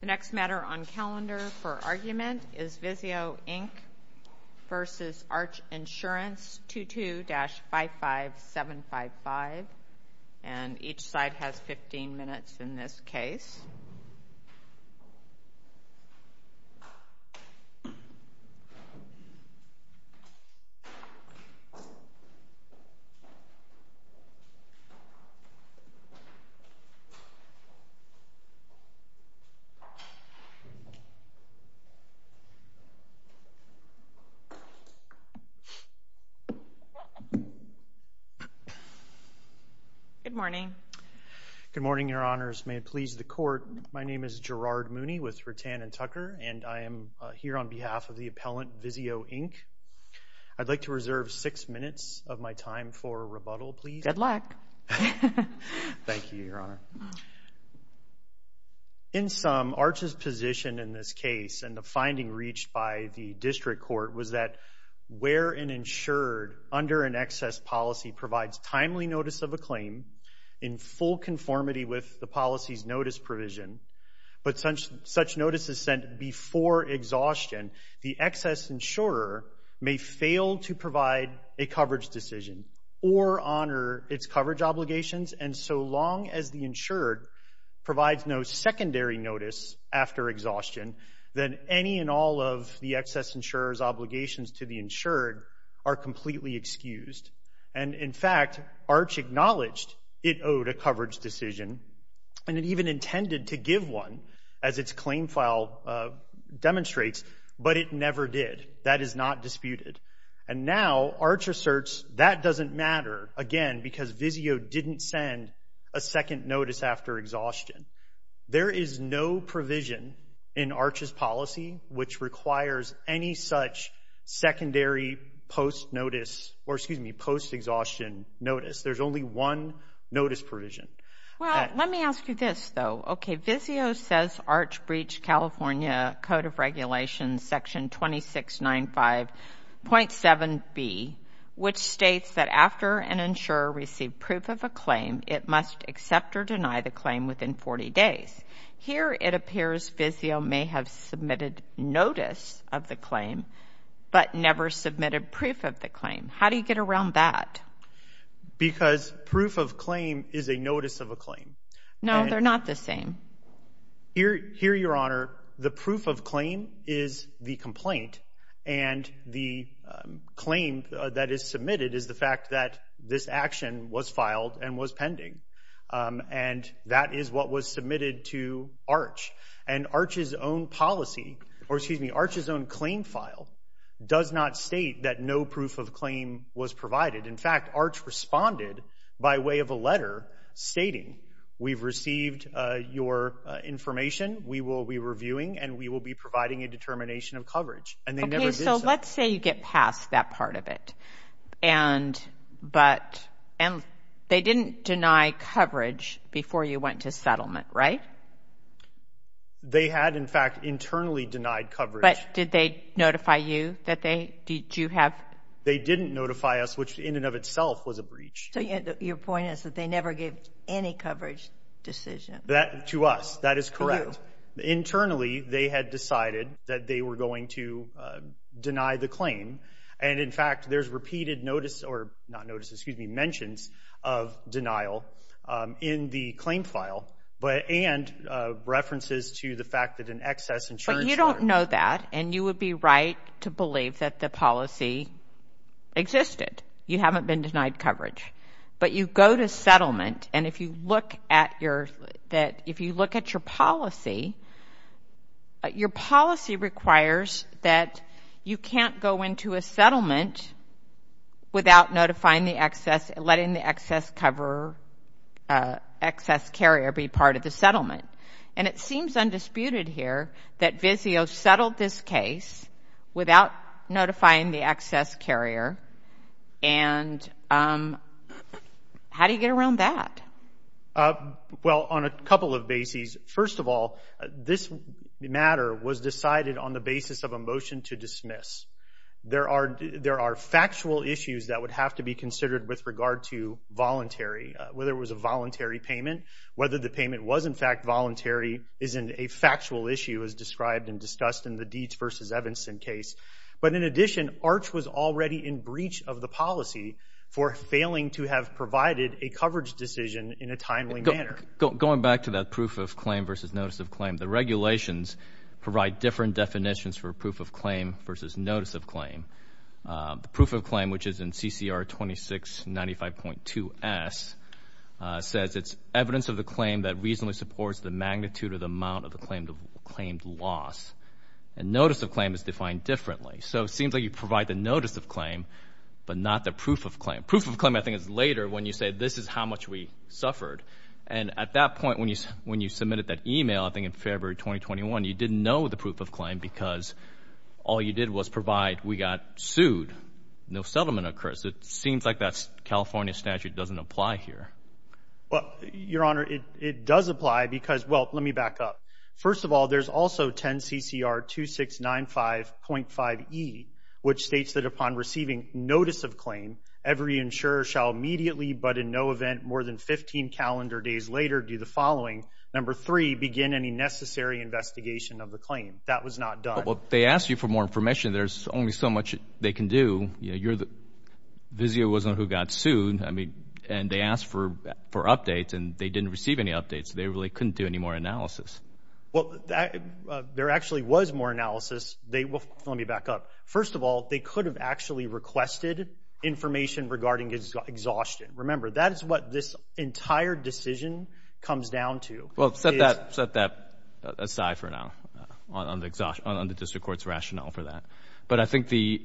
The next matter on calendar for argument is VIZIO, Inc. v. Arch Insurance, 22-55755. And each side has 15 minutes in this case. Good morning. Good morning, Your Honors. May it please the Court, my name is Gerard Mooney with Rattan & Tucker, and I am here on behalf of the appellant VIZIO, Inc. I'd like to reserve six minutes of my time for rebuttal, please. Good luck. Thank you, Your Honor. In sum, Arch's position in this case and the finding reached by the District Court was that where an insured under an excess policy provides timely notice of a claim in full conformity with the policy's notice provision, but such notice is sent before exhaustion, the excess insurer may fail to provide a coverage decision or honor its coverage obligations, and so long as the insured provides no secondary notice after exhaustion, then any and all of the excess insurer's obligations to the insured are completely excused. And in fact, Arch acknowledged it owed a coverage decision, and it even intended to give one as its claim file demonstrates, but it never did. That is not disputed. And now Arch asserts that doesn't matter, again, because VIZIO didn't send a second notice after exhaustion. There is no provision in Arch's policy which requires any such secondary post-notice, or excuse me, post-exhaustion notice. There's only one notice provision. Well, let me ask you this, though. Okay, VIZIO says Arch breached California Code of Regulations Section 2695.7b, which states that after an insurer received proof of a claim, it must accept or deny the claim within 40 days. Here, it appears VIZIO may have submitted notice of the claim, but never submitted proof of the claim. How do you get around that? Because proof of claim is a notice of a claim. No, they're not the same. Here, Your Honor, the proof of claim is the complaint, and the claim that is submitted is the fact that this action was filed and was pending. And that is what was submitted to Arch. And Arch's own policy, or excuse me, Arch's own claim file does not state that no proof of claim was provided. In fact, Arch responded by way of a letter stating, we've received your information, we will be reviewing, and we will be providing a determination of coverage. Okay, so let's say you get past that part of it. And they didn't deny coverage before you went to settlement, right? They had, in fact, internally denied coverage. But did they notify you that they, did you have? They didn't notify us, which in and of itself was a breach. So your point is that they never gave any coverage decision? That, to us, that is correct. Internally, they had decided that they were going to deny the claim. And in fact, there's repeated notice, or not notice, excuse me, mentions of denial in the claim file, but, and references to the fact that an excess insurance. But you don't know that, and you would be right to believe that the policy existed. You haven't been denied coverage. But you go to settlement, and if you look at your, that, if you look at your policy, your policy requires that you can't go into a settlement without notifying the excess, letting the excess cover, excess carrier be part of the settlement. And it seems undisputed here that VIZIO settled this case without notifying the excess carrier, and how do you get around that? Well, on a couple of bases. First of all, this matter was decided on the basis of a motion to dismiss. There are, there are factual issues that would have to be considered with regard to voluntary, whether it was a voluntary payment, whether the payment was, in fact, voluntary, isn't a factual issue as described and discussed in the Deeds v. Evanson case. But in addition, ARCH was already in breach of the policy for failing to have provided a coverage decision in a timely manner. Going back to that proof of claim versus notice of claim, the regulations provide different definitions for proof of claim versus notice of claim. Proof of claim, which is in CCR 2695.2S, says it's evidence of the claim that reasonably supports the magnitude of the amount of the claimed loss. And notice of claim is defined differently. So it seems like you provide the notice of claim, but not the proof of claim. Proof of claim, I think, is later when you say this is how much we suffered. And at that point, when you, when you submitted that email, I think in February 2021, you didn't know the proof of claim because all you did was provide we got sued. No settlement occurs. It seems like that California statute doesn't apply here. Well, Your Honor, it does apply because, well, let me back up. First of all, there's also 10 CCR 2695.5E, which states that upon receiving notice of claim, every insurer shall immediately, but in no event more than 15 calendar days later, do the following. Number three, begin any necessary investigation of the claim. That was not done. Well, they asked you for more information. There's only so much they can do. You're the, Vizio was the one who got sued. I mean, and they asked for updates and they didn't receive any updates. They really couldn't do any more analysis. Well, there actually was more analysis. They will, let me back up. First of all, they could have actually requested information regarding exhaustion. Remember, that is what this entire decision comes down to. Well, set that, set that aside for now on the exhaustion, on the district court's rationale for that. But I think the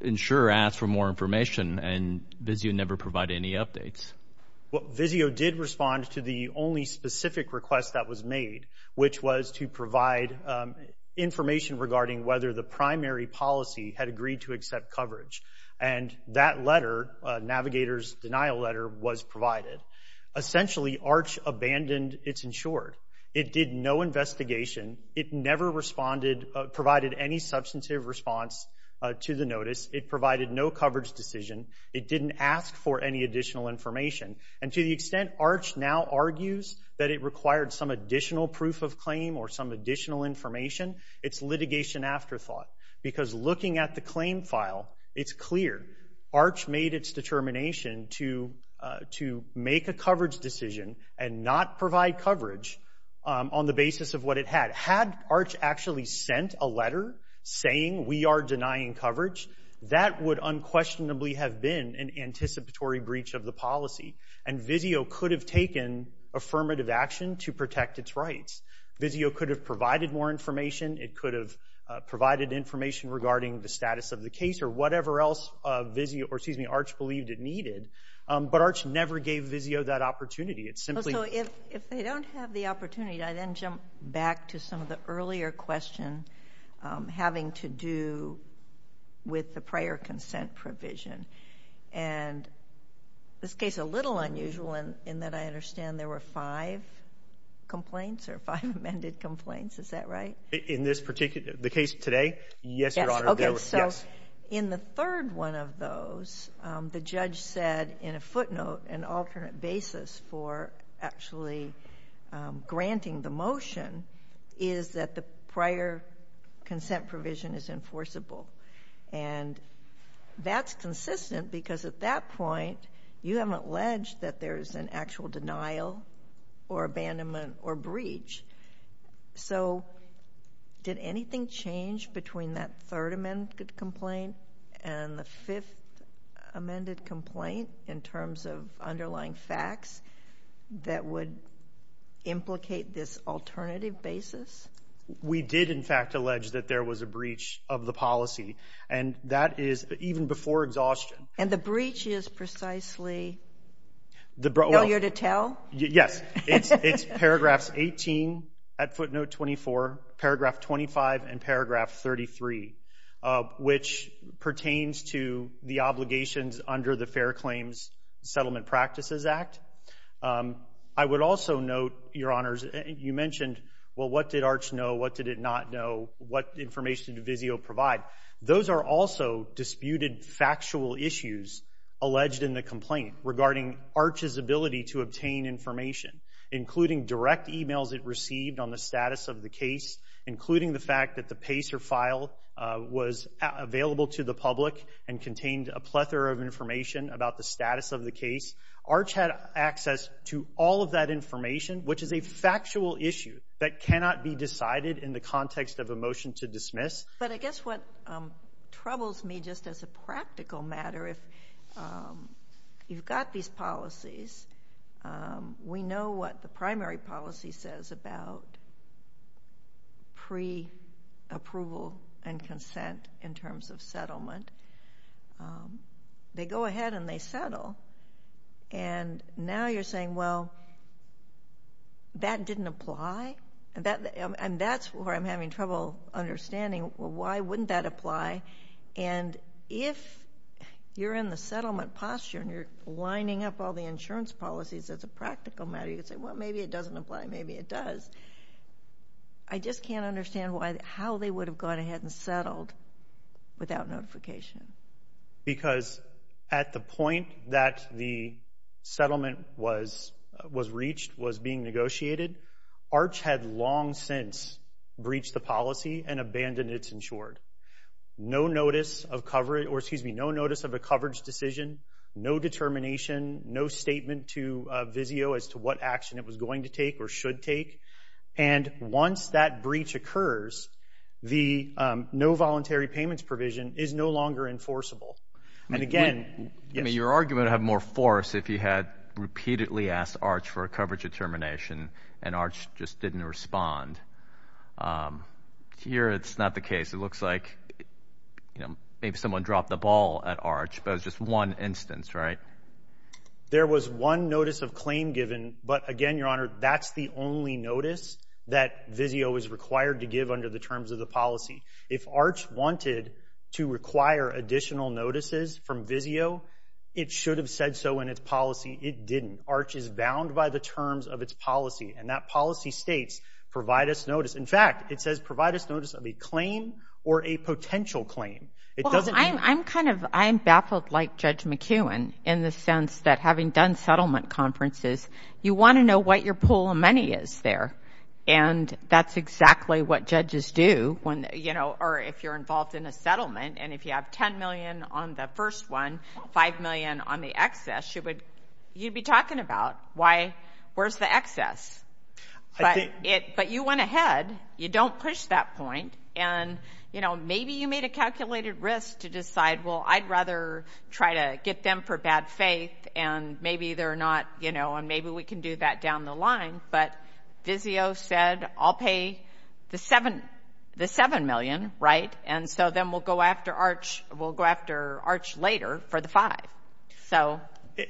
insurer asked for more information and Vizio never provided any updates. Vizio did respond to the only specific request that was made, which was to provide information regarding whether the primary policy had agreed to accept coverage. And that letter, Navigator's denial letter, was provided. Essentially, ARCH abandoned its insured. It did no investigation. It never responded, provided any substantive response to the notice. It provided no coverage decision. It didn't ask for any additional information. And to the extent ARCH now argues that it required some additional proof of claim or some additional information, it's litigation afterthought. Because looking at the claim file, it's clear ARCH made its determination to make a coverage decision and not provide coverage on the basis of what it had. Had ARCH actually sent a letter saying we are denying coverage, that would unquestionably have been an anticipatory breach of the policy. And Vizio could have taken affirmative action to protect its rights. Vizio could have provided more information. It could have provided information regarding the status of the case or whatever else Vizio, or excuse me, ARCH believed it needed. But ARCH never gave Vizio that opportunity. It simply- With the prior consent provision. And this case is a little unusual in that I understand there were five complaints or five amended complaints. Is that right? In this particular- the case today? Yes, Your Honor. Okay, so in the third one of those, the judge said in a footnote, an alternate basis for actually granting the motion is that the prior consent provision is enforceable. And that's consistent because at that point, you haven't alleged that there's an actual denial or abandonment or breach. So did anything change between that third amended complaint and the fifth amended complaint in terms of underlying facts that would implicate this alternative basis? We did, in fact, allege that there was a breach of the policy. And that is even before exhaustion. And the breach is precisely earlier to tell? Yes, it's paragraphs 18 at footnote 24, paragraph 25, and paragraph 33, which pertains to the obligations under the Fair Claims Settlement Practices Act. I would also note, Your Honors, you mentioned, well, what did Arch know? What did it not know? What information did Vizio provide? Those are also disputed factual issues alleged in the complaint regarding Arch's ability to obtain information, including direct emails it received on the status of the case, including the fact that the PACER file was available to the public and contained a plethora of information about the status of the case. Arch had access to all of that information, which is a factual issue that cannot be decided in the context of a motion to dismiss. But I guess what troubles me just as a practical matter, if you've got these policies, we know what the primary policy says about pre-approval and consent in terms of settlement. They go ahead and they settle, and now you're saying, well, that didn't apply? And that's where I'm having trouble understanding, well, why wouldn't that apply? And if you're in the settlement posture and you're lining up all the insurance policies as a practical matter, you could say, well, maybe it doesn't apply, maybe it does. I just can't understand how they would have gone ahead and settled without notification. Because at the point that the settlement was reached, was being negotiated, Arch had long since breached the policy and abandoned its insured. No notice of coverage, or excuse me, no notice of a coverage decision, no determination, no statement to VIZIO as to what action it was going to take or should take. And once that breach occurs, the no voluntary payments provision is no longer enforceable. And again, yes. Your argument would have more force if you had repeatedly asked Arch for a coverage determination and Arch just didn't respond. Here, it's not the case. It looks like maybe someone dropped the ball at Arch, but it was just one instance, right? There was one notice of claim given, but again, Your Honor, that's the only notice that VIZIO is required to give under the terms of the policy. If Arch wanted to require additional notices from VIZIO, it should have said so in its policy. It didn't. Arch is bound by the terms of its policy, and that policy states, provide us notice. In fact, it says provide us notice of a claim or a potential claim. Well, I'm kind of, I'm baffled like Judge McEwen in the sense that having done settlement conferences, you want to know what your pool of money is there. And that's exactly what judges do when, you know, or if you're involved in a settlement, and if you have $10 million on the first one, $5 million on the excess, you'd be talking about why, where's the excess? But you went ahead. You don't push that point. And, you know, maybe you made a calculated risk to decide, well, I'd rather try to get them for bad faith, and maybe they're not, you know, and maybe we can do that down the line. But VIZIO said, I'll pay the $7 million, right? And so then we'll go after Arch later for the $5.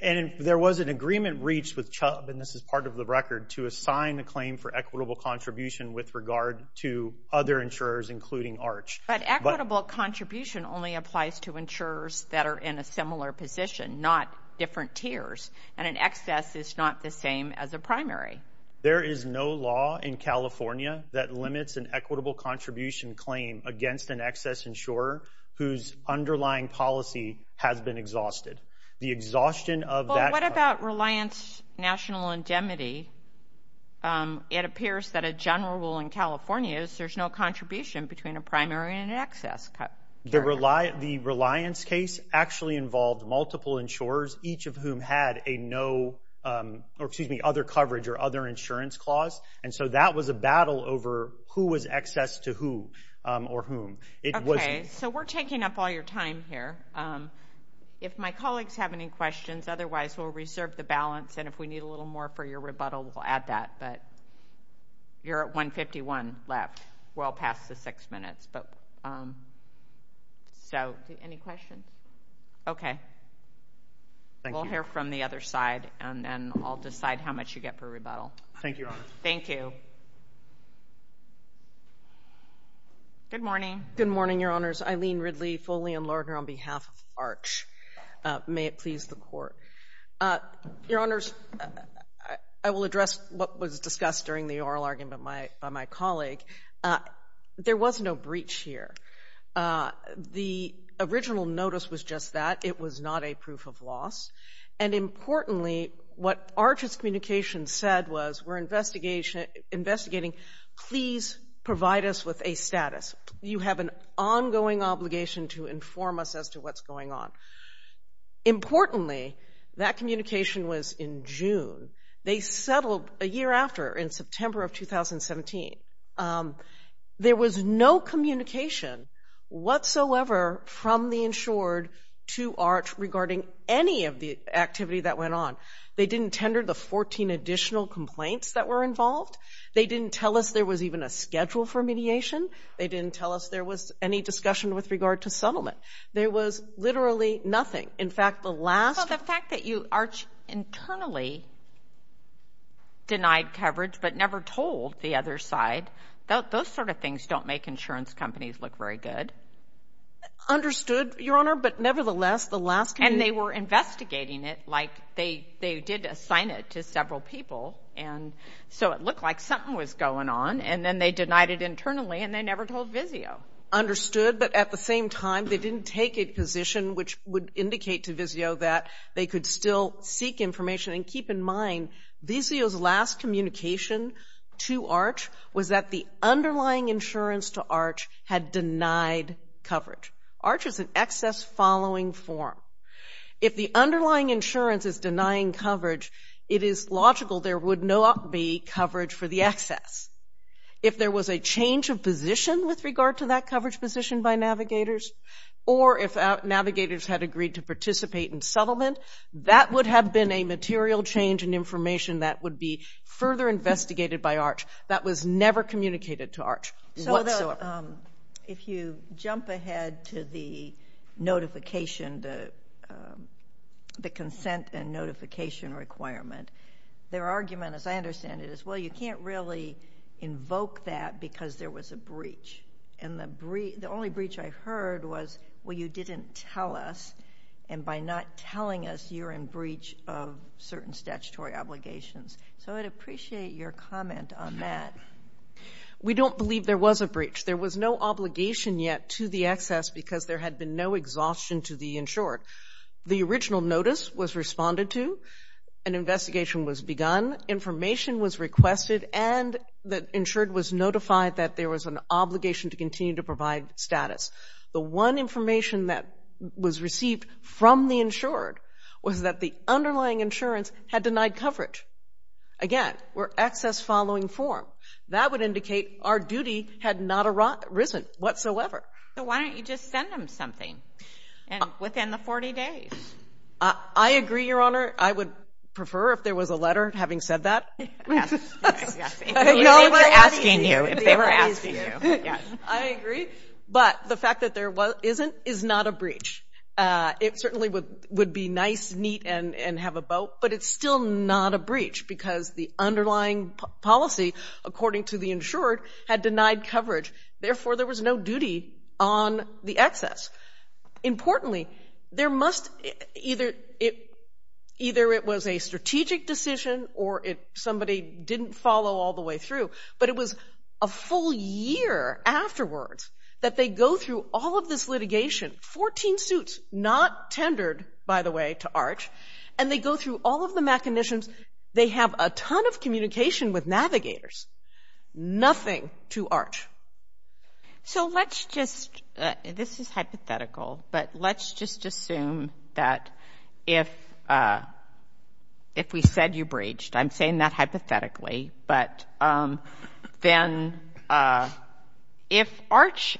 And there was an agreement reached with CHUBB, and this is part of the record, to assign the claim for equitable contribution with regard to other insurers, including Arch. But equitable contribution only applies to insurers that are in a similar position, not different tiers. And an excess is not the same as a primary. There is no law in California that limits an equitable contribution claim against an excess insurer whose underlying policy has been exhausted. The exhaustion of that- Well, what about reliance national indemnity? It appears that a general rule in California is there's no contribution between a primary and an excess. The reliance case actually involved multiple insurers, each of whom had a no, or excuse me, other coverage or other insurance clause. And so that was a battle over who was excess to who or whom. Okay. So we're taking up all your time here. If my colleagues have any questions, otherwise we'll reserve the balance. And if we need a little more for your rebuttal, we'll add that. But you're at 1.51 left. We're all past the six minutes. So any questions? Okay. Thank you. We'll hear from the other side, and then I'll decide how much you get for rebuttal. Thank you, Your Honor. Thank you. Good morning. Good morning, Your Honors. Eileen Ridley, Foley & Lerner on behalf of ARCH. May it please the Court. Your Honors, I will address what was discussed during the oral argument by my colleague. There was no breach here. The original notice was just that. It was not a proof of loss. And importantly, what ARCH's communication said was, we're investigating, please provide us with a status. You have an ongoing obligation to inform us as to what's going on. Importantly, that communication was in June. They settled a year after, in September of 2017. There was no communication whatsoever from the insured to ARCH regarding any of the activity that went on. They didn't tender the 14 additional complaints that were involved. They didn't tell us there was even a schedule for mediation. They didn't tell us there was any discussion with regard to settlement. There was literally nothing. In fact, the last- Well, the fact that you, ARCH, internally denied coverage but never told the other side, those sort of things don't make insurance companies look very good. Understood, Your Honor. But nevertheless, the last- And they were investigating it like they did assign it to several people. And so it looked like something was going on. And then they denied it internally, and they never told VIZIO. Understood, but at the same time, they didn't take a position which would indicate to VIZIO that they could still seek information. And keep in mind, VIZIO's last communication to ARCH was that the underlying insurance to ARCH had denied coverage. ARCH is an excess following form. If the underlying insurance is denying coverage, it is logical there would not be coverage for the excess. If there was a change of position with regard to that coverage position by navigators, or if navigators had agreed to participate in settlement, that would have been a material change in information that would be further investigated by ARCH. That was never communicated to ARCH whatsoever. So if you jump ahead to the notification, the consent and notification requirement, their argument, as I understand it, is, well, you can't really invoke that because there was a breach. And the only breach I heard was, well, you didn't tell us. And by not telling us, you're in breach of certain statutory obligations. So I'd appreciate your comment on that. We don't believe there was a breach. There was no obligation yet to the excess because there had been no exhaustion to the insured. The original notice was responded to, an investigation was begun, information was requested, and the insured was notified that there was an obligation to continue to provide status. The one information that was received from the insured was that the underlying insurance had denied coverage. Again, we're excess following form. That would indicate our duty had not arisen whatsoever. So why don't you just send them something within the 40 days? I agree, Your Honor. I would prefer if there was a letter having said that. Yes. If they were asking you. I agree. But the fact that there isn't is not a breach. It certainly would be nice, neat, and have a boat. But it's still not a breach because the underlying policy, according to the insured, had denied coverage. Therefore, there was no duty on the excess. Importantly, either it was a strategic decision or somebody didn't follow all the way through, but it was a full year afterwards that they go through all of this litigation, 14 suits not tendered, by the way, to ARCH, and they go through all of the machinations. They have a ton of communication with navigators. Nothing to ARCH. So let's just, this is hypothetical, but let's just assume that if we said you breached, I'm saying that hypothetically, but then if ARCH,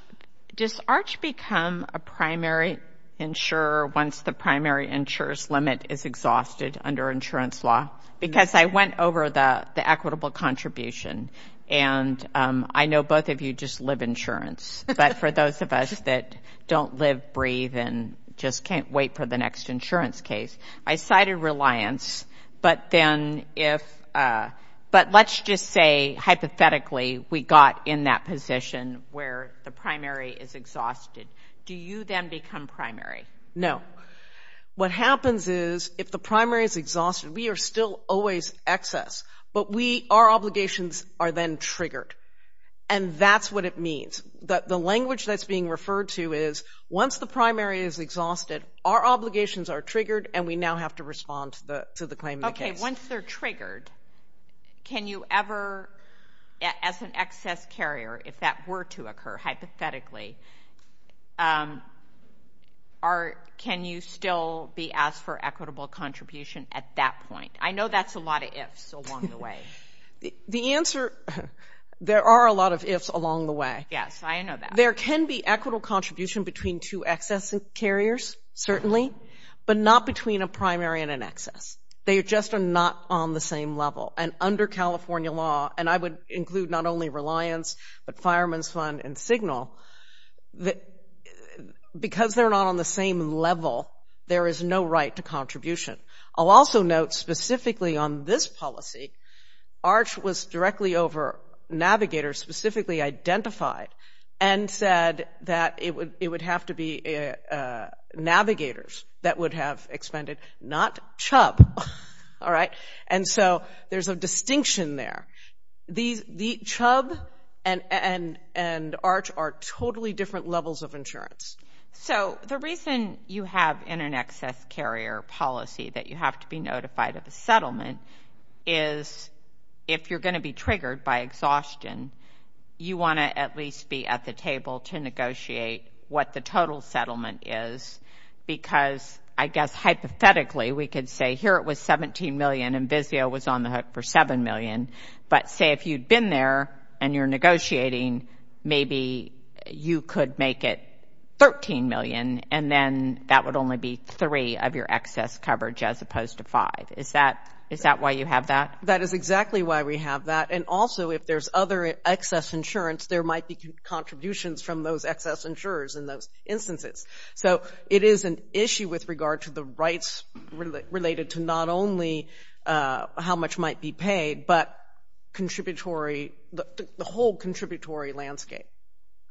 does ARCH become a primary insurer once the primary insurer's limit is exhausted under insurance law? Because I went over the equitable contribution, and I know both of you just live insurance. But for those of us that don't live, breathe, and just can't wait for the next insurance case, I cited reliance. But then if, but let's just say, hypothetically, we got in that position where the primary is exhausted. Do you then become primary? No. What happens is if the primary is exhausted, we are still always excess, but we, our obligations are then triggered. And that's what it means. The language that's being referred to is once the primary is exhausted, our obligations are triggered, and we now have to respond to the claim of the case. Okay. Once they're triggered, can you ever, as an excess carrier, if that were to occur, hypothetically, can you still be asked for equitable contribution at that point? I know that's a lot of ifs along the way. The answer, there are a lot of ifs along the way. Yes, I know that. There can be equitable contribution between two excess carriers, certainly, but not between a primary and an excess. They just are not on the same level. And under California law, and I would include not only reliance, but fireman's fund and signal, because they're not on the same level, there is no right to contribution. I'll also note specifically on this policy, ARCH was directly over navigators specifically identified and said that it would have to be navigators that would have expended, not CHUB. All right? And so there's a distinction there. CHUB and ARCH are totally different levels of insurance. So the reason you have in an excess carrier policy that you have to be notified of a settlement is, if you're going to be triggered by exhaustion, you want to at least be at the table to negotiate what the total settlement is, because I guess hypothetically we could say here it was $17 million and Vizio was on the hook for $7 million. But say if you'd been there and you're negotiating, maybe you could make it $13 million, and then that would only be three of your excess coverage as opposed to five. Is that why you have that? That is exactly why we have that. And also, if there's other excess insurance, there might be contributions from those excess insurers in those instances. So it is an issue with regard to the rights related to not only how much might be paid, but the whole contributory landscape.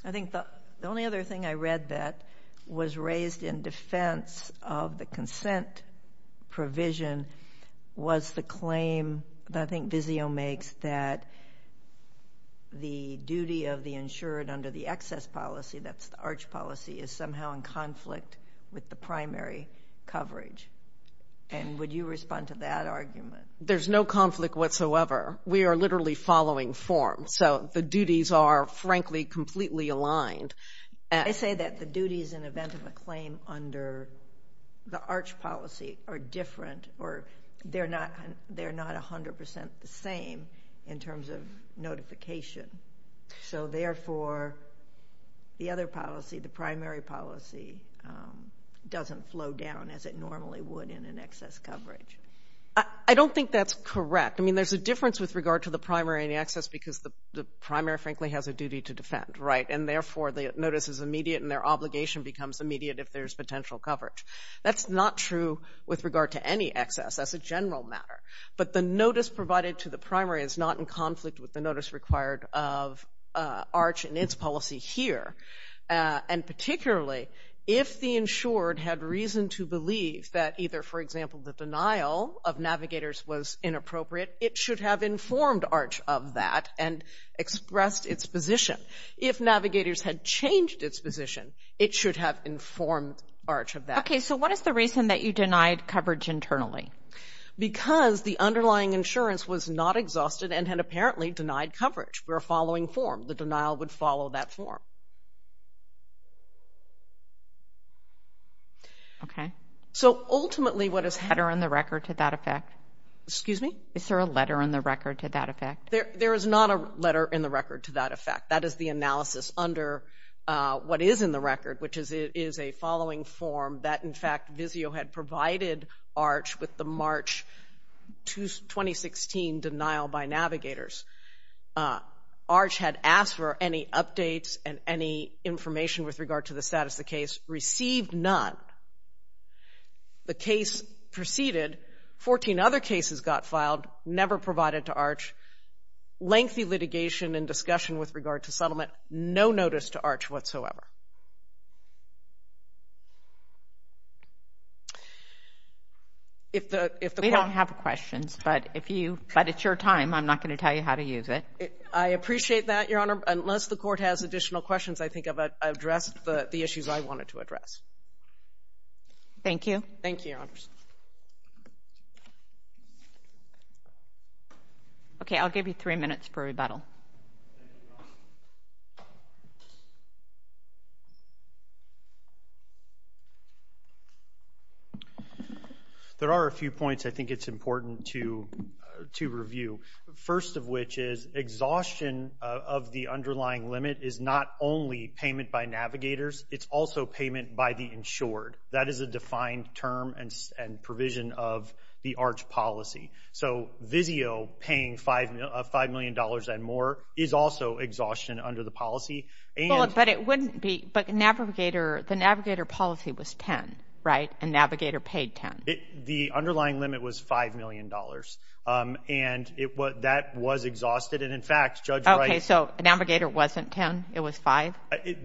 I think the only other thing I read that was raised in defense of the consent provision was the claim that I think Vizio makes that the duty of the insured under the excess policy, that's the ARCH policy, is somehow in conflict with the primary coverage. And would you respond to that argument? There's no conflict whatsoever. We are literally following form. So the duties are, frankly, completely aligned. I say that the duties in the event of a claim under the ARCH policy are different, or they're not 100% the same in terms of notification. So therefore, the other policy, the primary policy, doesn't flow down as it normally would in an excess coverage. I don't think that's correct. I mean, there's a difference with regard to the primary and the excess because the primary, frankly, has a duty to defend. And therefore, the notice is immediate and their obligation becomes immediate if there's potential coverage. That's not true with regard to any excess as a general matter. But the notice provided to the primary is not in conflict with the notice required of ARCH and its policy here. And particularly, if the insured had reason to believe that either, for example, the denial of navigators was inappropriate, it should have informed ARCH of that and expressed its position. If navigators had changed its position, it should have informed ARCH of that. Okay, so what is the reason that you denied coverage internally? Because the underlying insurance was not exhausted and had apparently denied coverage. We're following form. The denial would follow that form. Okay. So ultimately, what is... Is there a letter in the record to that effect? Excuse me? Is there a letter in the record to that effect? There is not a letter in the record to that effect. That is the analysis under what is in the record, which is a following form that, in fact, Vizio had provided ARCH with the March 2016 denial by navigators. ARCH had asked for any updates and any information with regard to the status of the case. Received none. The case proceeded. Fourteen other cases got filed. Never provided to ARCH. Lengthy litigation and discussion with regard to settlement. No notice to ARCH whatsoever. If the court... We don't have questions, but if you... But it's your time. I'm not going to tell you how to use it. I appreciate that, Your Honor. Unless the court has additional questions, I think I've addressed the issues I wanted to address. Thank you. Thank you, Your Honors. Okay, I'll give you three minutes for rebuttal. There are a few points I think it's important to review. First of which is exhaustion of the underlying limit is not only payment by navigators. It's also payment by the insured. That is a defined term and provision of the ARCH policy. So Vizio paying $5 million and more is also exhaustion under the policy. But it wouldn't be... But the navigator policy was 10, right? And navigator paid 10. The underlying limit was $5 million. And that was exhausted. And in fact, Judge Wright... Okay, so navigator wasn't 10. It was 5?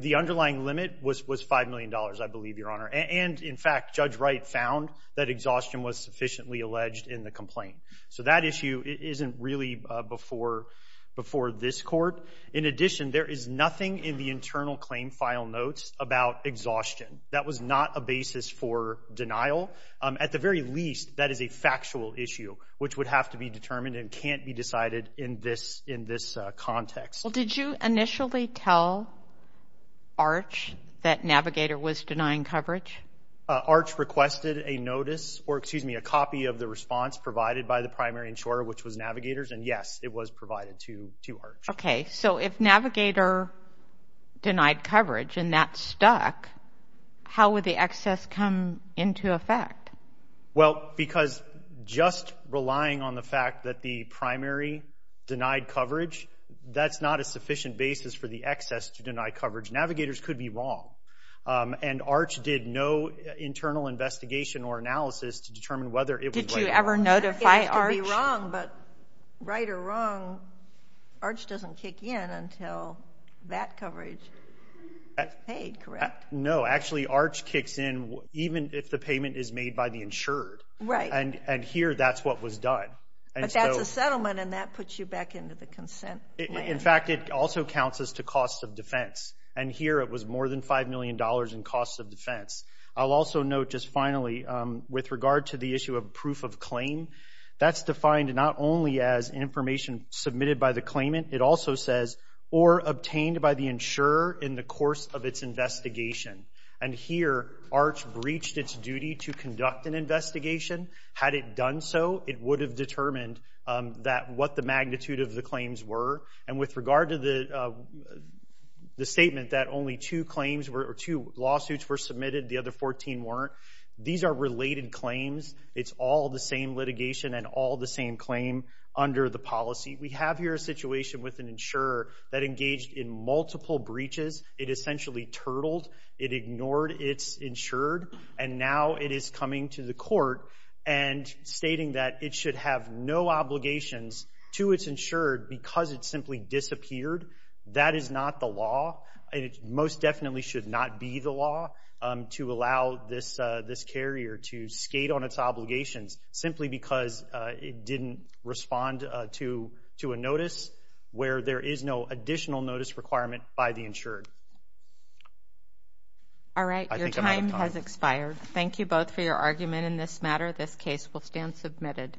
The underlying limit was $5 million, I believe, Your Honor. And in fact, Judge Wright found that exhaustion was sufficiently alleged in the complaint. So that issue isn't really before this court. In addition, there is nothing in the internal claim file notes about exhaustion. That was not a basis for denial. At the very least, that is a factual issue which would have to be determined and can't be decided in this context. Well, did you initially tell ARCH that Navigator was denying coverage? ARCH requested a notice... Or excuse me, a copy of the response provided by the primary insurer, which was Navigator's. And yes, it was provided to ARCH. Okay, so if Navigator denied coverage and that stuck, how would the excess come into effect? Well, because just relying on the fact that the primary denied coverage, that's not a sufficient basis for the excess to deny coverage. Navigators could be wrong. And ARCH did no internal investigation or analysis to determine whether it was right or wrong. Did you ever notify ARCH? It could be wrong, but right or wrong, ARCH doesn't kick in until that coverage is paid, correct? No, actually ARCH kicks in even if the payment is made by the insured. Right. And here, that's what was done. But that's a settlement and that puts you back into the consent plan. In fact, it also counts as to cost of defense. And here, it was more than $5 million in cost of defense. I'll also note just finally, with regard to the issue of proof of claim, that's defined not only as information submitted by the claimant, it also says, or obtained by the insurer in the course of its investigation. And here, ARCH breached its duty to conduct an investigation. Had it done so, it would have determined what the magnitude of the claims were. And with regard to the statement that only two lawsuits were submitted, the other 14 weren't, these are related claims. It's all the same litigation We have here a situation with an insurer that engaged in multiple breaches. It essentially turtled. It ignored its insured. And now it is coming to the court and stating that it should have no obligations to its insured because it simply disappeared. That is not the law. It most definitely should not be the law to allow this carrier to skate on its obligations simply because it didn't respond to a notice where there is no additional notice requirement by the insured. Alright, your time has expired. Thank you both for your argument in this matter. This case will stand submitted.